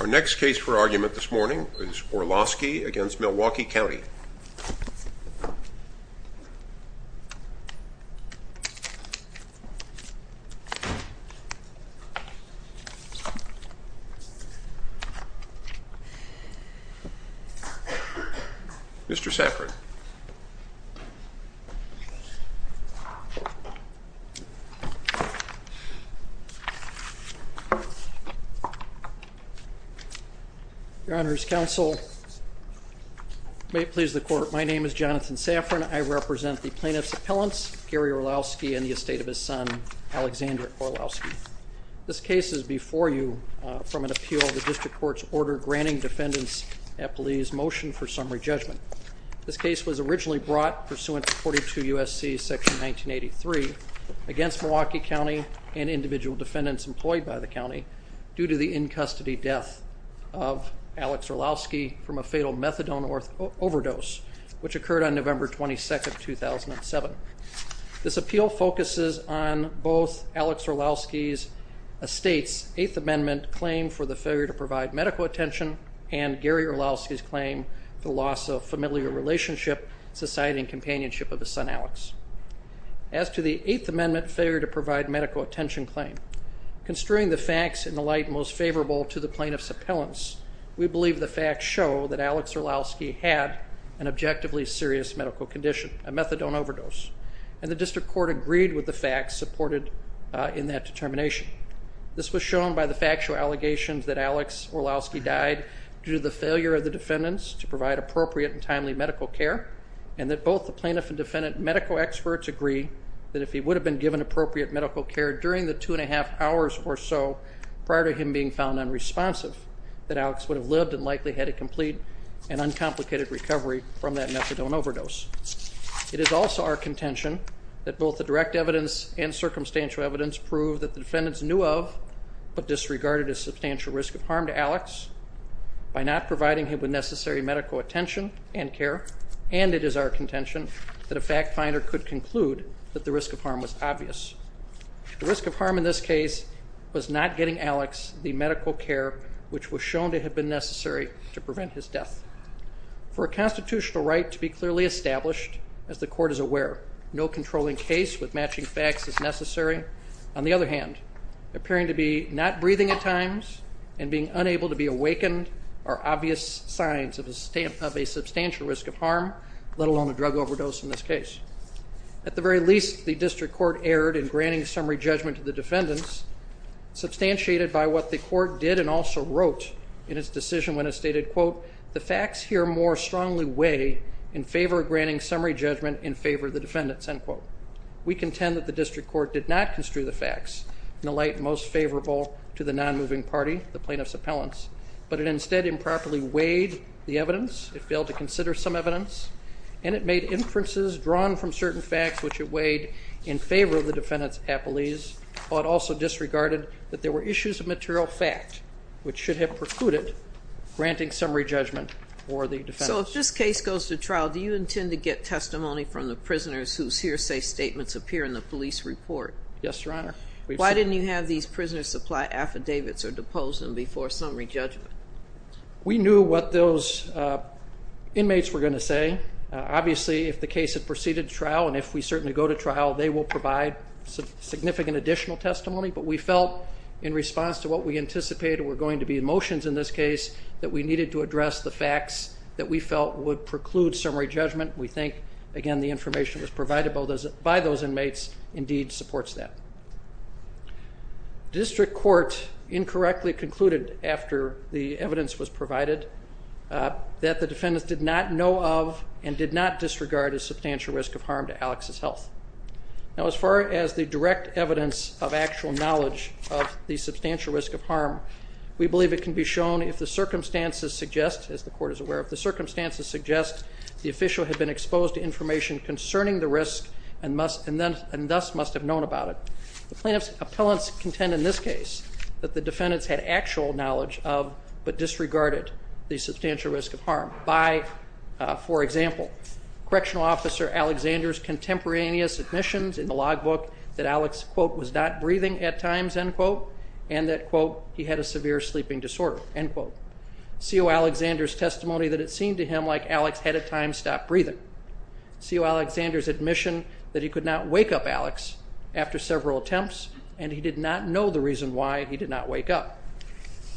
Our next case for argument this morning is Orlowski v. Milwaukee County. Mr. Safran. Your Honor's counsel, may it please the court, my name is Jonathan Safran. I represent the plaintiff's appellants Gary Orlowski and the estate of his son Alexander Orlowski. This case is before you from an appeal the district court's order granting defendants at police motion for summary judgment. This case was originally brought pursuant to 42 USC section 1983 against Milwaukee County and individual defendants employed by the county due to the in-custody death of Alex Orlowski from a fatal methadone overdose which occurred on November 22nd 2007. This appeal focuses on both Alex Orlowski's estate's Eighth Amendment claim for the failure to provide medical attention and Gary Orlowski's claim the loss of familiar relationship, society, and companionship of his son Alex. As to the Eighth Amendment failure to provide medical attention claim, construing the facts in the light most favorable to the plaintiff's appellants, we believe the facts show that Alex Orlowski had an objectively serious medical condition, a methadone overdose, and the district court agreed with the facts supported in that determination. This was shown by the factual allegations that Alex Orlowski died due to the failure of the defendants to provide appropriate and timely medical care and that both the plaintiff and defendant medical experts agree that if he would have been given appropriate medical care during the two and a half hours or so prior to him being found unresponsive, that Alex would have lived and likely had a complete and uncomplicated recovery from that methadone overdose. It is also our contention that both the direct evidence and circumstantial evidence prove that the defendants knew of but disregarded a substantial risk of harm to Alex by not providing him with necessary medical attention and care and it is our contention that a fact finder could conclude that the risk of harm was obvious. The risk of harm in this case was not getting Alex the medical care which was shown to have been necessary to prevent his death. For a constitutional right to be clearly established, as the court is aware, no controlling case with matching facts is necessary. On the other hand, appearing to be not breathing at times and being unable to be awakened are obvious signs of a substantial risk of harm, let alone a drug overdose in this case. At the very least, the district court erred in granting summary judgment to the defendants, substantiated by what the court did and also wrote in its decision when it stated, quote, the facts here more strongly weigh in favor of granting summary judgment in favor of the defendants, end quote. We contend that the district court did not construe the facts in the light most favorable to the non-moving party, the plaintiff's appellants, but it instead improperly weighed the evidence, it failed to consider some evidence, and it made inferences drawn from certain facts which it weighed in favor of the defendants' appellees, but also disregarded that there were issues of material fact which should have precluded granting summary judgment for the defendants. So if this case goes to trial, do you intend to get testimony from the prisoners whose hearsay statements appear in the police report? Yes, Your Honor. Why didn't you have these prisoners supply affidavits or depose them before summary judgment? We knew what those inmates were going to say. Obviously, if the case had proceeded trial and if we certainly go to trial, they will provide significant additional testimony, but we felt in response to what we anticipated were going to be motions in this case that we needed to address the facts that we felt would preclude summary judgment. We think, again, the information was provided by those inmates indeed supports that. District court incorrectly concluded after the evidence was provided that the defendants were aware of and did not disregard a substantial risk of harm to Alex's health. Now, as far as the direct evidence of actual knowledge of the substantial risk of harm, we believe it can be shown if the circumstances suggest, as the court is aware of, the circumstances suggest the official had been exposed to information concerning the risk and thus must have known about it. The plaintiff's appellants contend in this case that the defendants had actual knowledge of but disregarded the substantial risk of Correctional Officer Alexander's contemporaneous admissions in the log book that Alex quote was not breathing at times, end quote, and that quote he had a severe sleeping disorder, end quote. C. O. Alexander's testimony that it seemed to him like Alex had at times stopped breathing. C. O. Alexander's admission that he could not wake up Alex after several attempts, and he did not know the reason why he did not wake up.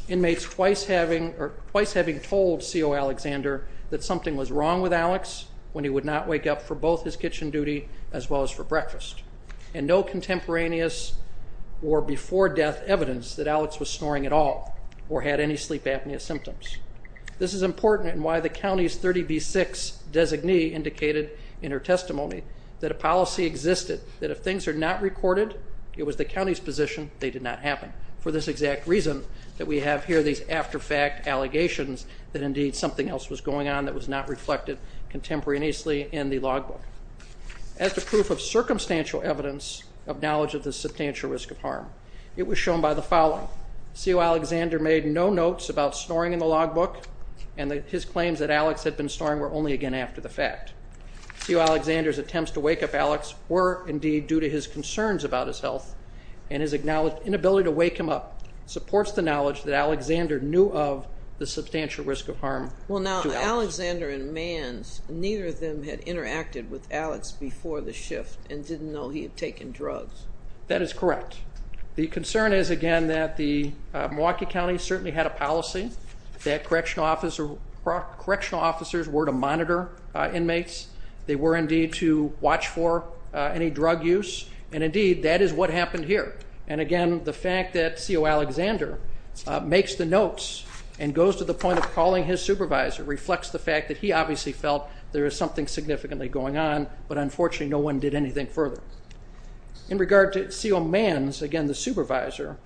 Inmates twice having twice having told C. O. Alexander that something was wrong with Alex when he would not wake up for both his kitchen duty as well as for breakfast, and no contemporaneous or before death evidence that Alex was snoring at all or had any sleep apnea symptoms. This is important in why the county's 30 B six designee indicated in her testimony that a policy existed that if things are not recorded, it was the county's position they did not happen for this exact reason that we that indeed something else was going on that was not reflected contemporaneously in the log book. As the proof of circumstantial evidence of knowledge of the substantial risk of harm, it was shown by the following. C. O. Alexander made no notes about snoring in the log book, and his claims that Alex had been snoring were only again after the fact. C. O. Alexander's attempts to wake up Alex were indeed due to his concerns about his health and his acknowledged inability to wake him up supports the knowledge that Alexander knew of the substantial risk of harm. Well, now, Alexander and man's neither of them had interacted with Alex before the shift and didn't know he had taken drugs. That is correct. The concern is again that the Milwaukee County certainly had a policy that correctional officer, correctional officers were to monitor inmates. They were indeed to watch for any drug use. And indeed, that is what happened here. And again, the fact that C. O. Alexander makes the notes and goes to the point of calling his supervisor reflects the fact that he obviously felt there is something significantly going on, but unfortunately no one did anything further. In regard to C. O. Mann's, again the supervisor,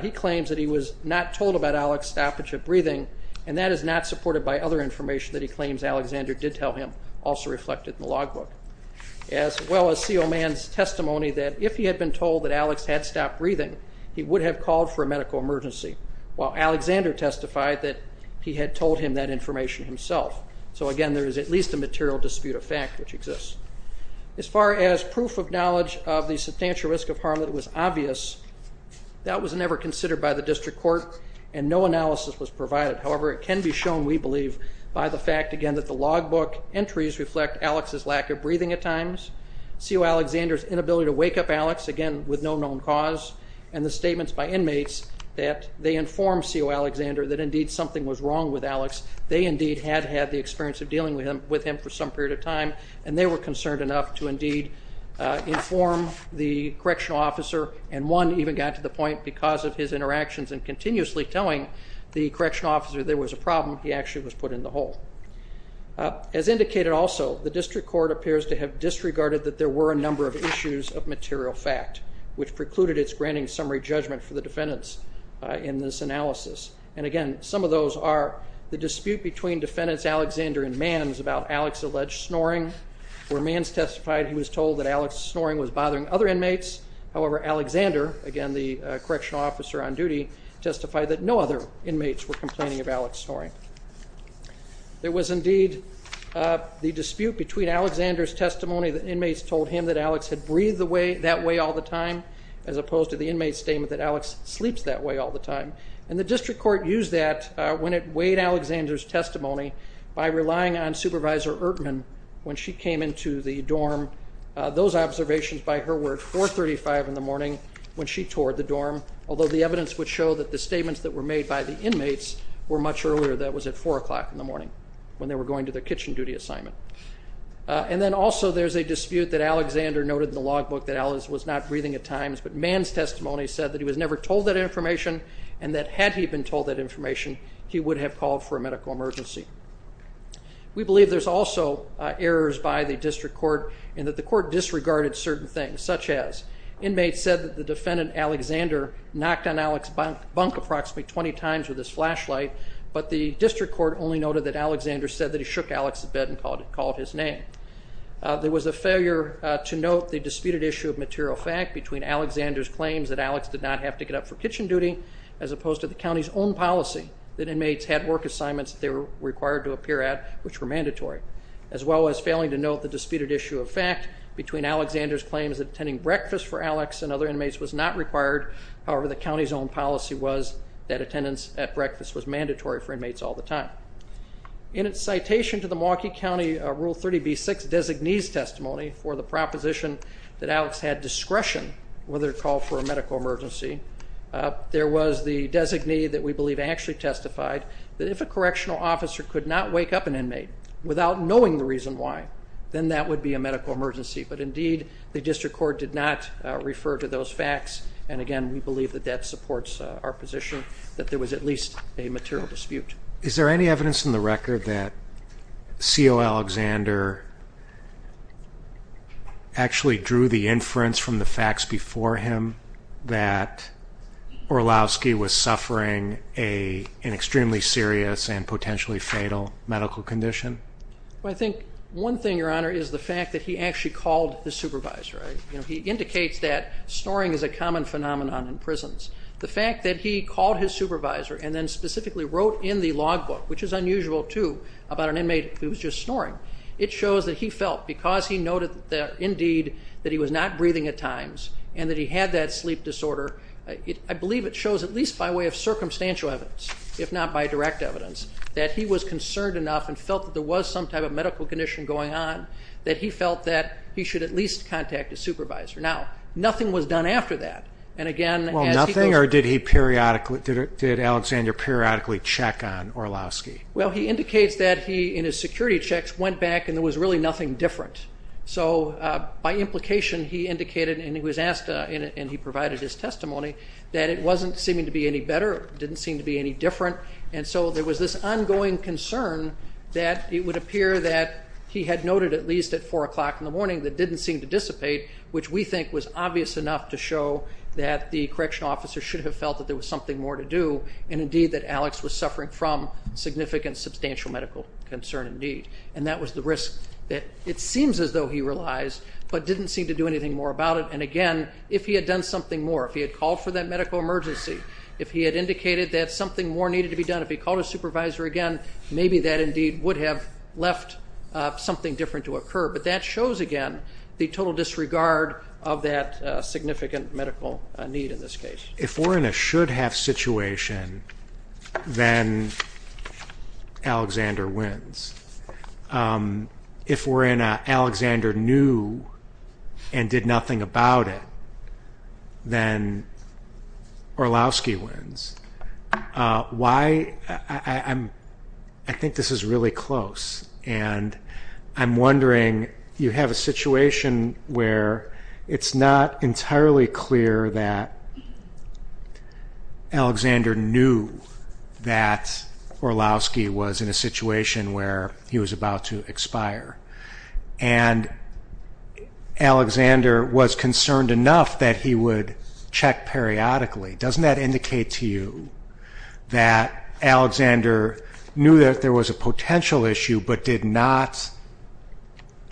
he claims that he was not told about Alex's stoppage of breathing and that is not supported by other information that he claims Alexander did tell him, also reflected in the log book. As well as C. O. Mann's testimony that if he had been told that Alex had stopped breathing, he would have called for a medical emergency, while Alexander testified that he had told him that information himself. So again, there is at least a material dispute of fact which exists. As far as proof of knowledge of the substantial risk of harm that was obvious, that was never considered by the district court and no analysis was provided. However, it can be shown, we believe, by the fact again that the log book entries reflect Alex's lack of breathing at times, C. O. Alexander's inability to wake up Alex, again with no known cause, and the statements by that they informed C. O. Alexander that indeed something was wrong with Alex. They indeed had had the experience of dealing with him for some period of time and they were concerned enough to indeed inform the correctional officer and one even got to the point, because of his interactions and continuously telling the correctional officer there was a problem, he actually was put in the hole. As indicated also, the district court appears to have disregarded that there were a number of issues of material fact, which precluded its granting summary judgment for the defendants in this analysis. And again, some of those are the dispute between defendants Alexander and Manns about Alex's alleged snoring. Where Manns testified he was told that Alex's snoring was bothering other inmates. However, Alexander, again the correctional officer on duty, testified that no other inmates were complaining of Alex's snoring. There was indeed the dispute between Alexander's testimony that inmates told him that Alex had breathed that way all the time, as opposed to the inmate's statement that Alex sleeps that way all the time. And the district court used that when it weighed Alexander's testimony by relying on Supervisor Ertmann when she came into the dorm. Those observations by her were at 435 in the morning when she toured the dorm, although the evidence would show that the statements that were made by the inmates were much earlier. That was at four o'clock in the morning when they were going to their kitchen duty assignment. And then also there's a dispute that Alexander noted in the log book that Alex was not breathing at times, but Manns' testimony said that he was never told that information, and that had he been told that information, he would have called for a medical emergency. We believe there's also errors by the district court in that the court disregarded certain things, such as inmates said that the defendant Alexander knocked on Alex's bunk approximately 20 times with his flashlight, but the district court only that Alexander said that he shook Alex's bed and called his name. There was a failure to note the disputed issue of material fact between Alexander's claims that Alex did not have to get up for kitchen duty, as opposed to the county's own policy that inmates had work assignments they were required to appear at, which were mandatory, as well as failing to note the disputed issue of fact between Alexander's claims that attending breakfast for Alex and other inmates was not required, however the county's own policy was that attendance at breakfast was mandatory for inmates all the time. In its citation to the Milwaukee County Rule 30b-6 designee's testimony for the proposition that Alex had discretion whether to call for a medical emergency, there was the designee that we believe actually testified that if a correctional officer could not wake up an inmate without knowing the reason why, then that would be a medical emergency, but indeed the district court did not refer to those at least a material dispute. Is there any evidence in the record that C.O. Alexander actually drew the inference from the facts before him that Orlowski was suffering an extremely serious and potentially fatal medical condition? I think one thing, your honor, is the fact that he actually called the supervisor. He indicates that snoring is a common phenomenon in prisons. The specifically wrote in the logbook, which is unusual too, about an inmate who was just snoring. It shows that he felt because he noted that indeed that he was not breathing at times and that he had that sleep disorder, I believe it shows at least by way of circumstantial evidence, if not by direct evidence, that he was concerned enough and felt that there was some type of medical condition going on, that he felt that he should at least contact a supervisor. Now nothing was done after that and again... Nothing or did he periodically, did Alexander periodically check on Orlowski? Well he indicates that he, in his security checks, went back and there was really nothing different. So by implication he indicated, and he was asked and he provided his testimony, that it wasn't seeming to be any better, didn't seem to be any different, and so there was this ongoing concern that it would appear that he had noted at least at four o'clock in the morning that didn't seem to dissipate, which we think was obvious enough to show that the correctional officer should have felt that there was something more to do and indeed that Alex was suffering from significant substantial medical concern indeed and that was the risk that it seems as though he realized but didn't seem to do anything more about it and again if he had done something more, if he had called for that medical emergency, if he had indicated that something more needed to be done, if he called a supervisor again, maybe that indeed would have left something different to occur but that shows again the total disregard of that significant medical need in this If we're in a should-have situation, then Alexander wins. If we're in a Alexander knew and did nothing about it, then Orlowski wins. Why? I think this is really close and I'm wondering, you have a situation where it's not entirely clear that Alexander knew that Orlowski was in a situation where he was about to expire and Alexander was concerned enough that he would check periodically. Doesn't that indicate to you that Alexander knew that there was a potential issue but did not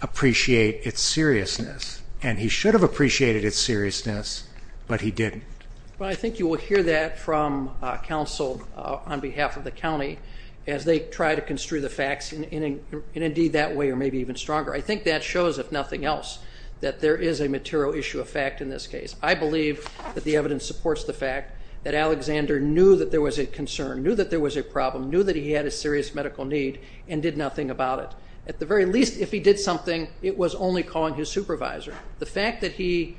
appreciate its seriousness and he should have appreciated its seriousness but he didn't? Well I think you will hear that from counsel on behalf of the county as they try to construe the facts in indeed that way or maybe even stronger. I think that shows if nothing else that there is a material issue of fact in this case. I believe that the evidence supports the fact that Alexander knew that there was a concern, knew that there was a problem, knew that he had a serious medical need and did nothing about it. At the very least if he did something it was only calling his supervisor. The fact that he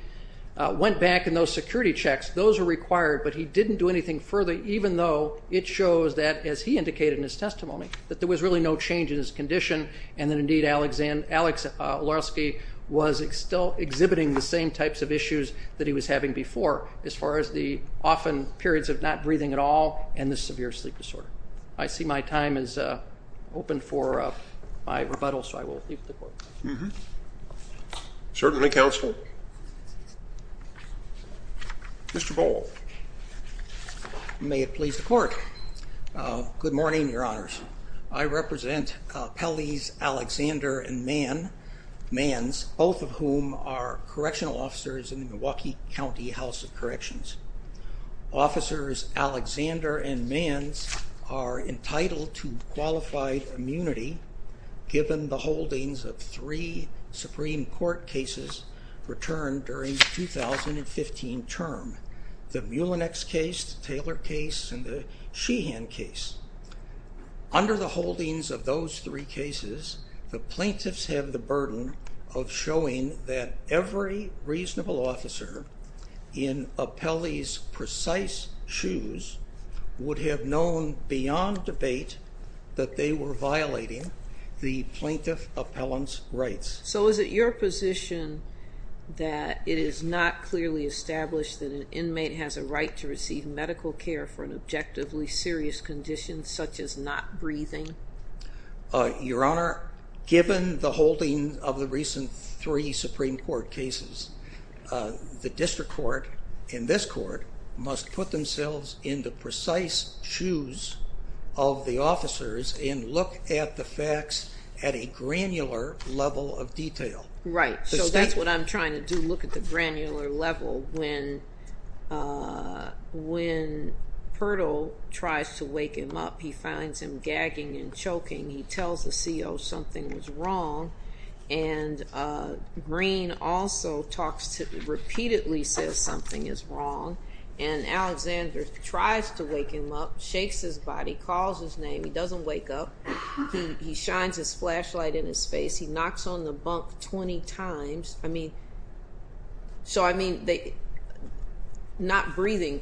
went back and those security checks, those are required but he didn't do anything further even though it shows that as he indicated in his testimony that there was really no change in his condition and that indeed Alex Orlowski was still exhibiting the same types of issues that he was having before as far as the often periods of not breathing at all and the severe sleep disorder. I see my time is open for my rebuttal so I will leave the court. Mm-hmm. Certainly counsel. Mr. Boal. May it please the court. Good morning Your Honors. I represent Pelley's Alexander and Mann, Mann's, both of whom are correctional officers in the Milwaukee County House of Corrections. Officers Alexander and Mann's are entitled to qualified immunity given the holdings of three Supreme Court cases returned during the 2015 term. The Mullinex case, Taylor case, and the Sheehan case. Under the holdings of those three cases the plaintiffs have the burden of showing that every reasonable officer in Pelley's precise shoes would have known beyond debate that they were violating the plaintiff appellant's rights. So is it your position that it is not clearly established that an inmate has a right to receive medical care for an objectively serious condition such as not breathing? Your Honor, given the holding of the recent three Supreme Court cases, the district court in this court must put themselves in the precise shoes of the officers and look at the facts at a granular level of detail. Right, so that's what I'm trying to do, look at the granular level. When when Purtle tries to wake him up he finds him gagging and choking. He tells the CO something was wrong and Green also talks to repeatedly says something is wrong and Alexander tries to wake him up, shakes his body, calls his name. He doesn't wake up. He shines his flashlight in his face. He knocks on the bunk 20 times. I mean, so I mean they not breathing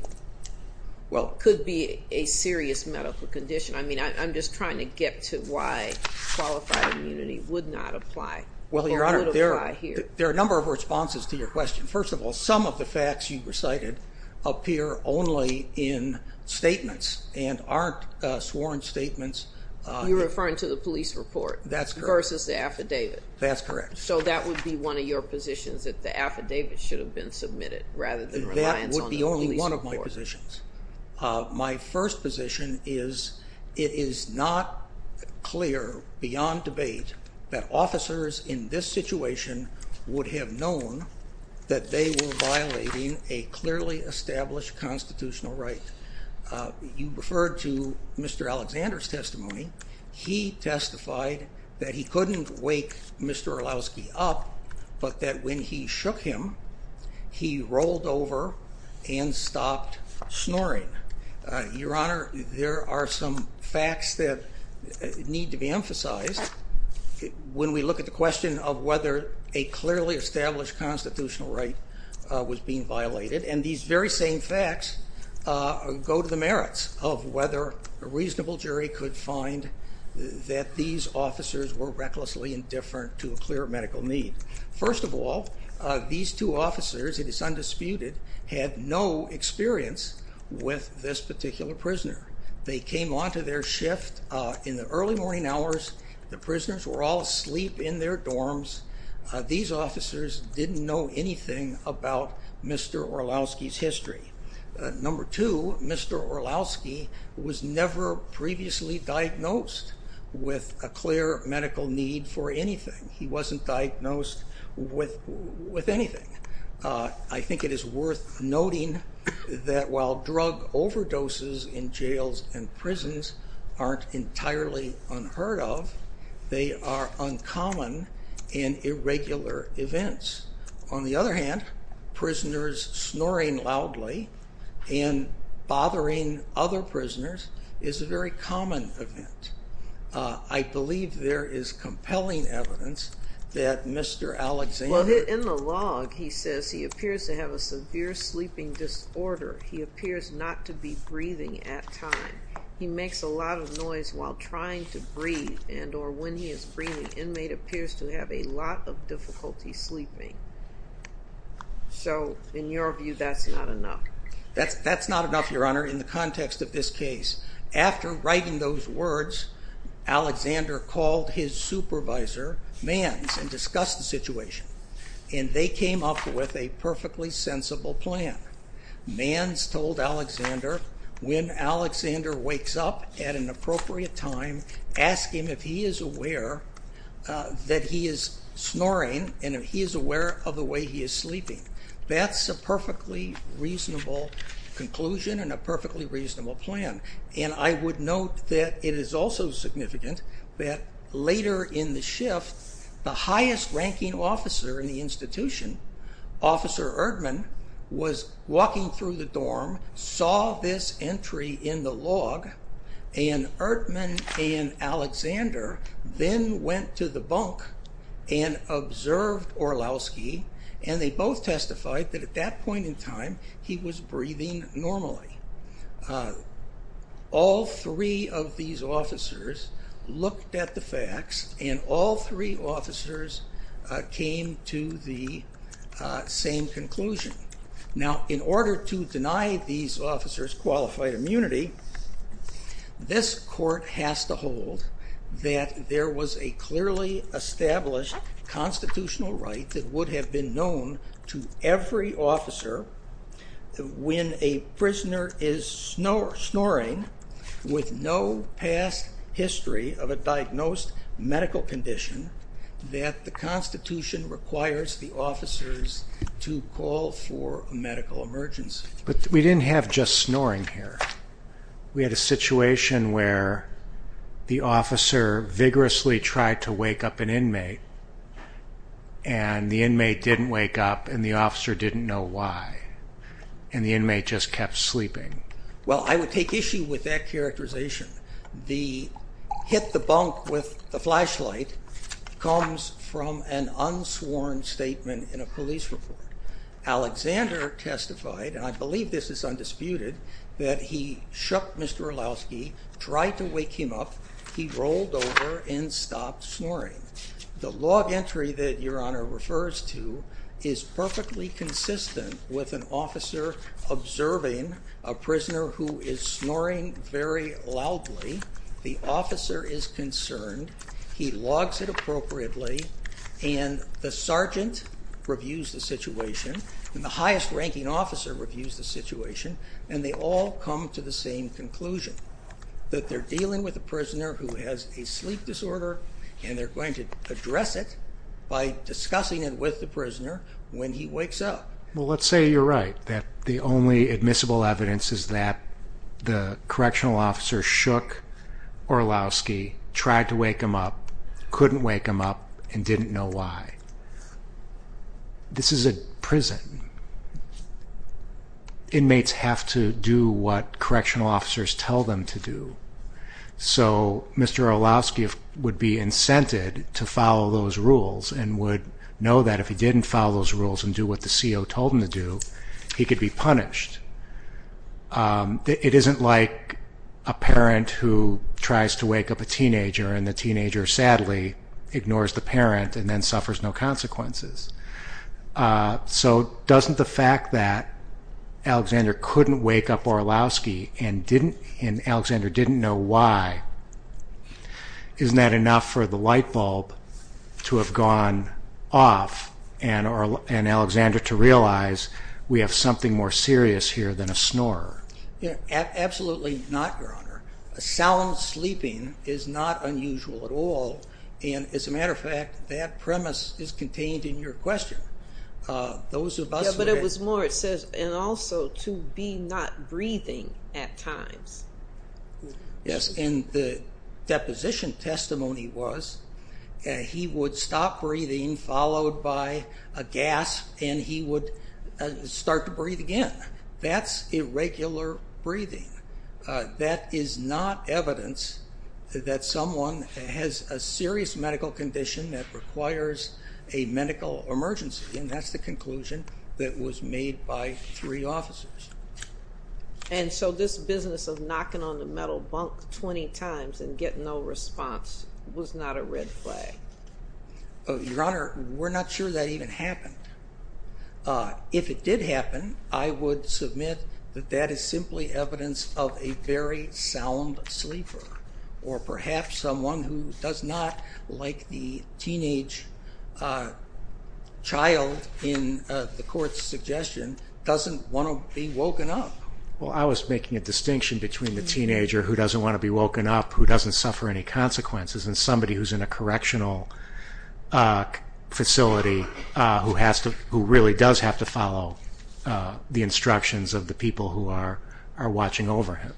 well could be a serious medical condition. I mean I'm just trying to get to why qualified immunity would not apply. Well, Your Honor, there are a number of responses to your question. First of all, some of the facts you recited appear only in statements and aren't sworn statements. You're referring to the police report. That's correct. Versus the affidavit. That's correct. So that would be one of your positions that the affidavit should have been submitted rather than reliance on the police report. That would be only one of my positions. My first position is it is not clear beyond debate that officers in this situation would have known that they were violating a clearly established constitutional right. You referred to Mr. Alexander's testimony. He testified that he couldn't wake Mr. Orlowski up but that when he shook him he rolled over and stopped snoring. Your Honor, there are some facts that need to be emphasized when we look at the question of whether a clearly established constitutional right was being violated and these very same facts go to the merits of whether a reasonable jury could find that these officers were recklessly indifferent to a clear medical need. First of all, these two officers, it is undisputed, had no experience with this particular prisoner. They came on to their shift in the early morning hours. The prisoners were all asleep in their dorms. These officers didn't know anything about Mr. Orlowski's history. Number two, Mr. Orlowski was never previously diagnosed with a clear medical need for anything. He wasn't diagnosed with anything. I think it is worth noting that while drug overdoses in jails and prisons aren't entirely unheard of, they are uncommon and irregular events. On the other hand, prisoners snoring loudly and bothering other prisoners is a very common event. I believe there is compelling evidence that Mr. Alexander... Well, in the log he says he appears to have a severe sleeping disorder. He appears not to be able to breathe and or when he is breathing, the inmate appears to have a lot of difficulty sleeping. So, in your view, that's not enough? That's not enough, Your Honor, in the context of this case. After writing those words, Alexander called his supervisor, Manz, and discussed the situation. And they came up with a perfectly sensible plan. Manz told Alexander, when Alexander wakes up at an hour, to ask him if he is aware that he is snoring and if he is aware of the way he is sleeping. That's a perfectly reasonable conclusion and a perfectly reasonable plan. And I would note that it is also significant that later in the shift, the highest-ranking officer in the institution, Officer Erdman, was walking through the dorm, saw this entry in the log, and Erdman and Alexander then went to the bunk and observed Orlowski, and they both testified that at that point in time he was breathing normally. All three of these officers looked at the deny these officers qualified immunity, this court has to hold that there was a clearly established constitutional right that would have been known to every officer when a prisoner is snoring with no past history of a diagnosed medical condition that the Constitution requires the officers to call for a But we didn't have just snoring here. We had a situation where the officer vigorously tried to wake up an inmate and the inmate didn't wake up and the officer didn't know why. And the inmate just kept sleeping. Well I would take issue with that characterization. The hit the bunk with the flashlight comes from an unsworn statement in a police report. Alexander testified, and I believe this is undisputed, that he shook Mr. Orlowski, tried to wake him up, he rolled over and stopped snoring. The log entry that your Honor refers to is perfectly consistent with an officer observing a prisoner who is snoring very loudly. The officer is concerned, he logs it appropriately, and the sergeant reviews the situation and the highest-ranking officer reviews the situation and they all come to the same conclusion. That they're dealing with a prisoner who has a sleep disorder and they're going to address it by discussing it with the prisoner when he wakes up. Well let's say you're right that the only admissible evidence is that the correctional officer shook Orlowski, tried to wake him up, couldn't wake him up, and didn't know why. This is a prison. Inmates have to do what correctional officers tell them to do. So Mr. Orlowski would be incented to follow those rules and would know that if he didn't follow those rules and do what the CO told him to do, he could be punished. It isn't like a parent who tries to wake up a teenager and the teenager sadly ignores the parent and then suffers no consequences. So doesn't the fact that Alexander couldn't wake up Orlowski and Alexander didn't know why, isn't that enough for the light bulb to have gone off and Alexander to realize we have something more serious here than a snorer? Absolutely not, Your Honor. Sound sleeping is not unusual at all and as a matter of fact that premise is contained in your question. But it was more it says and also to be not breathing at times. Yes and the deposition testimony was he would stop breathing followed by a gasp and he would start to breathe again. That's irregular breathing. That is not evidence that someone has a serious medical condition that requires a medical emergency and that's the conclusion that was made by three officers. And so this business of knocking on the metal bunk 20 times and get no response was not a red flag. Your Honor, we're not sure that even happened. Uh, if it did happen, I would submit that that is simply evidence of a very sound sleeper or perhaps someone who does not like the teenage, uh, child in the court's suggestion doesn't want to be woken up. Well, I was making a distinction between the teenager who doesn't want to be woken up, who doesn't suffer any consequences and somebody who's in a correctional, uh, facility who has to who really does have to follow the instructions of the people who are are watching over him.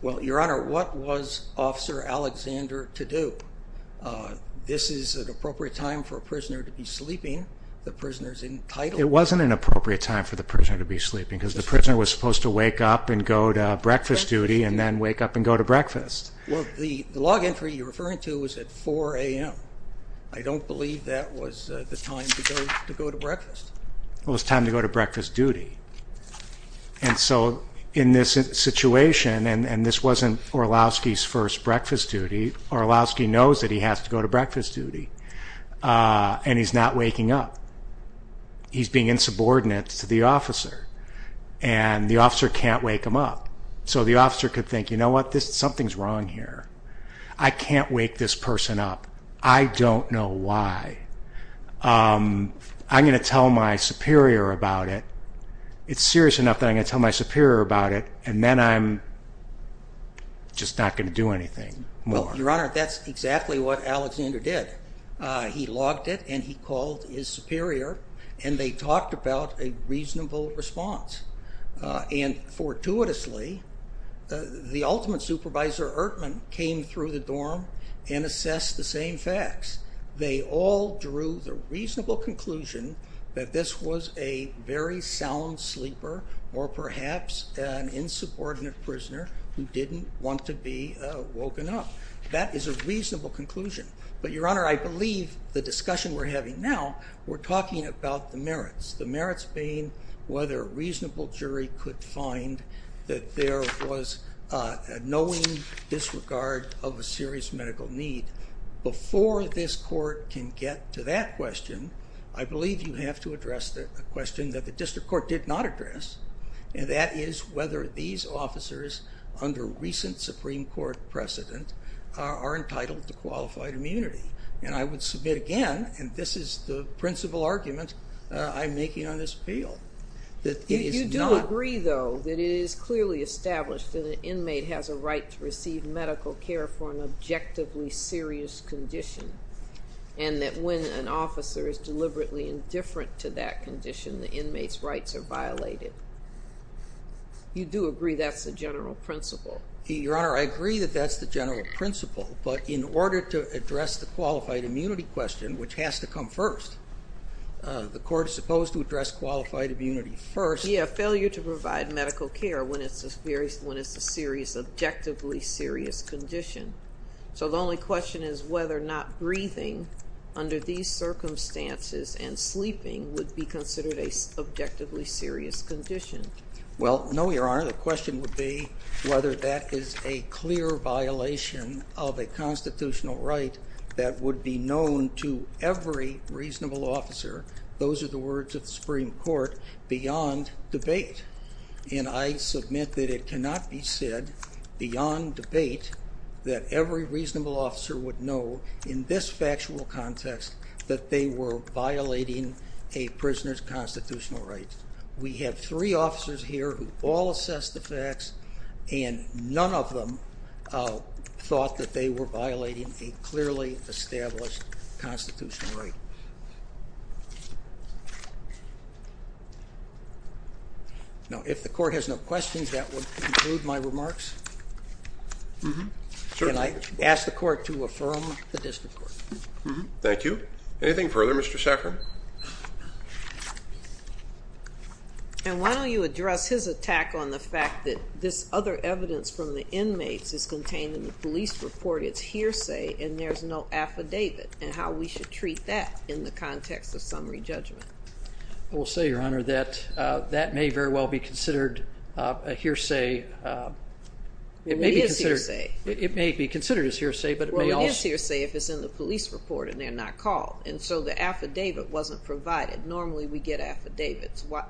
Well, Your Honor, what was Officer Alexander to do? Uh, this is an appropriate time for a prisoner to be sleeping. The prisoners entitled. It wasn't an appropriate time for the prisoner to be sleeping because the prisoner was supposed to wake up and go to breakfast duty and then wake up and go to breakfast. Well, the log entry you're referring to is at four a.m. I don't believe that was the time to go to breakfast. It was time to go to breakfast duty. And so in this situation, and this wasn't Orlowski's first breakfast duty, Orlowski knows that he has to go to breakfast duty. Uh, he's not waking up. He's being insubordinate to the officer, and the officer can't wake him up. So the officer could think, You know what? This something's wrong here. I can't wake this person up. I don't know why. Um, I'm gonna tell my superior about it. It's serious enough that I'm gonna tell my superior about it, and then I'm just not gonna do anything. Well, Your Honor, that's exactly what Alexander did. He logged it, and he called his superior, and they talked about a reasonable response. And fortuitously, the ultimate supervisor, Ertman, came through the dorm and assessed the same facts. They all drew the reasonable conclusion that this was a very sound sleeper or perhaps an insubordinate prisoner who didn't want to be woken up. That is a reasonable conclusion. But Your Honor, I believe the discussion we're having now we're talking about the merits, the merits being whether reasonable jury could find that there was knowing disregard of a serious medical need before this court can get to that question. I believe you have to address the question that the district court did not address, and that is whether these officers, under recent Supreme Court precedent, are entitled to qualified immunity. And I would submit again, and this is the principal argument I'm making on this appeal, that you do agree, though, that it is clearly established that an inmate has a right to receive medical care for an objectively serious condition, and that when an officer is deliberately indifferent to that condition, the rights are violated. You do agree that's the general principle? Your Honor, I agree that that's the general principle, but in order to address the qualified immunity question, which has to come first, the court is supposed to address qualified immunity first. Yeah, failure to provide medical care when it's a serious, objectively serious condition. So the only question is whether or not breathing under these circumstances and an objectively serious condition. Well, no, Your Honor. The question would be whether that is a clear violation of a constitutional right that would be known to every reasonable officer. Those are the words of the Supreme Court beyond debate, and I submit that it cannot be said beyond debate that every reasonable officer would know in this factual context that they were violating a constitutional right. We have three officers here who all assess the facts, and none of them thought that they were violating a clearly established constitutional right. Now, if the court has no questions, that would conclude my remarks. Can I ask the court to affirm the district court? Thank you. Anything further, Mr. Saffron? And why don't you address his attack on the fact that this other evidence from the inmates is contained in the police report, it's hearsay, and there's no affidavit, and how we should treat that in the context of summary judgment? I will say, Your Honor, that that may very well be considered a hearsay. It may be considered... It is hearsay. It may be considered as hearsay, but it may also... Well, it is hearsay if it's in the police report and they're not called, and so the affidavit wasn't provided. Normally, we get affidavits. Why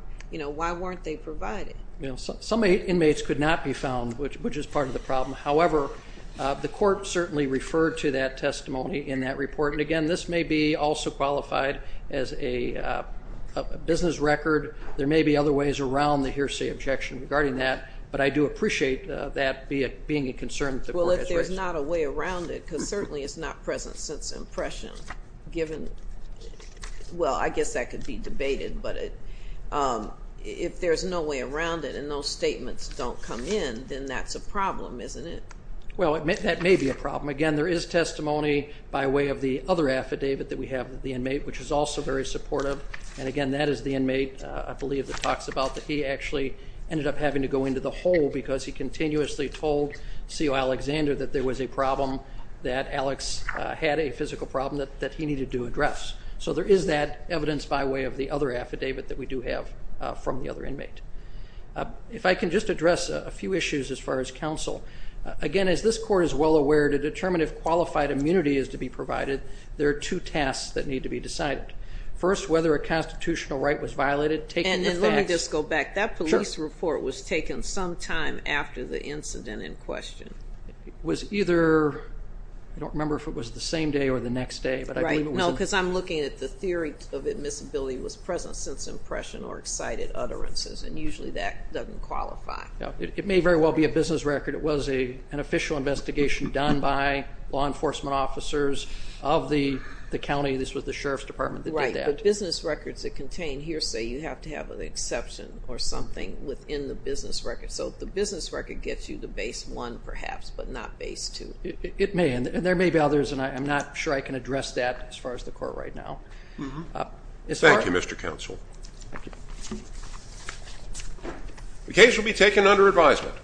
weren't they provided? Some inmates could not be found, which is part of the problem. However, the court certainly referred to that testimony in that report. And again, this may be also qualified as a business record. There may be other ways around the hearsay objection regarding that, but I do appreciate that being a concern that the court has raised. Well, if there's not a way around it, because certainly it's not present since impression given... Well, I guess that could be debated, but if there's no way around it and those statements don't come in, then that's a problem, isn't it? Well, that may be a problem. Again, there is testimony by way of the other affidavit that we have with the inmate, which is also very supportive. And again, that is the inmate, I believe, that talks about that he actually ended up having to go into the hole because he continuously told CO Alexander that there was a problem, that Alex had a physical problem that he needed to address. So there is that evidence by way of the other affidavit that we do have from the other inmate. If I can just address a few issues as far as counsel. Again, as this court is well aware to determine if qualified immunity is to be provided, there are two tasks that need to be decided. First, whether a constitutional right was violated, taken with facts... And then let me just go back. That police report was taken sometime after the incident in question. It was either... I don't remember if it was the same day or the next day. Right. No, because I'm looking at the theory of admissibility was present since impression or excited utterances, and usually that doesn't qualify. It may very well be a business record. It was an official investigation done by law enforcement officers of the county. This was the Sheriff's Department that did that. Right, but business records that contain here say you have to have an exception or something within the business record. So the business record gets you to base one, perhaps, but not base two. It may, and there may be others, and I'm not sure I can address that as far as the court right now. Thank you, Mr. Counsel. Thank you. The case will be taken under advisement.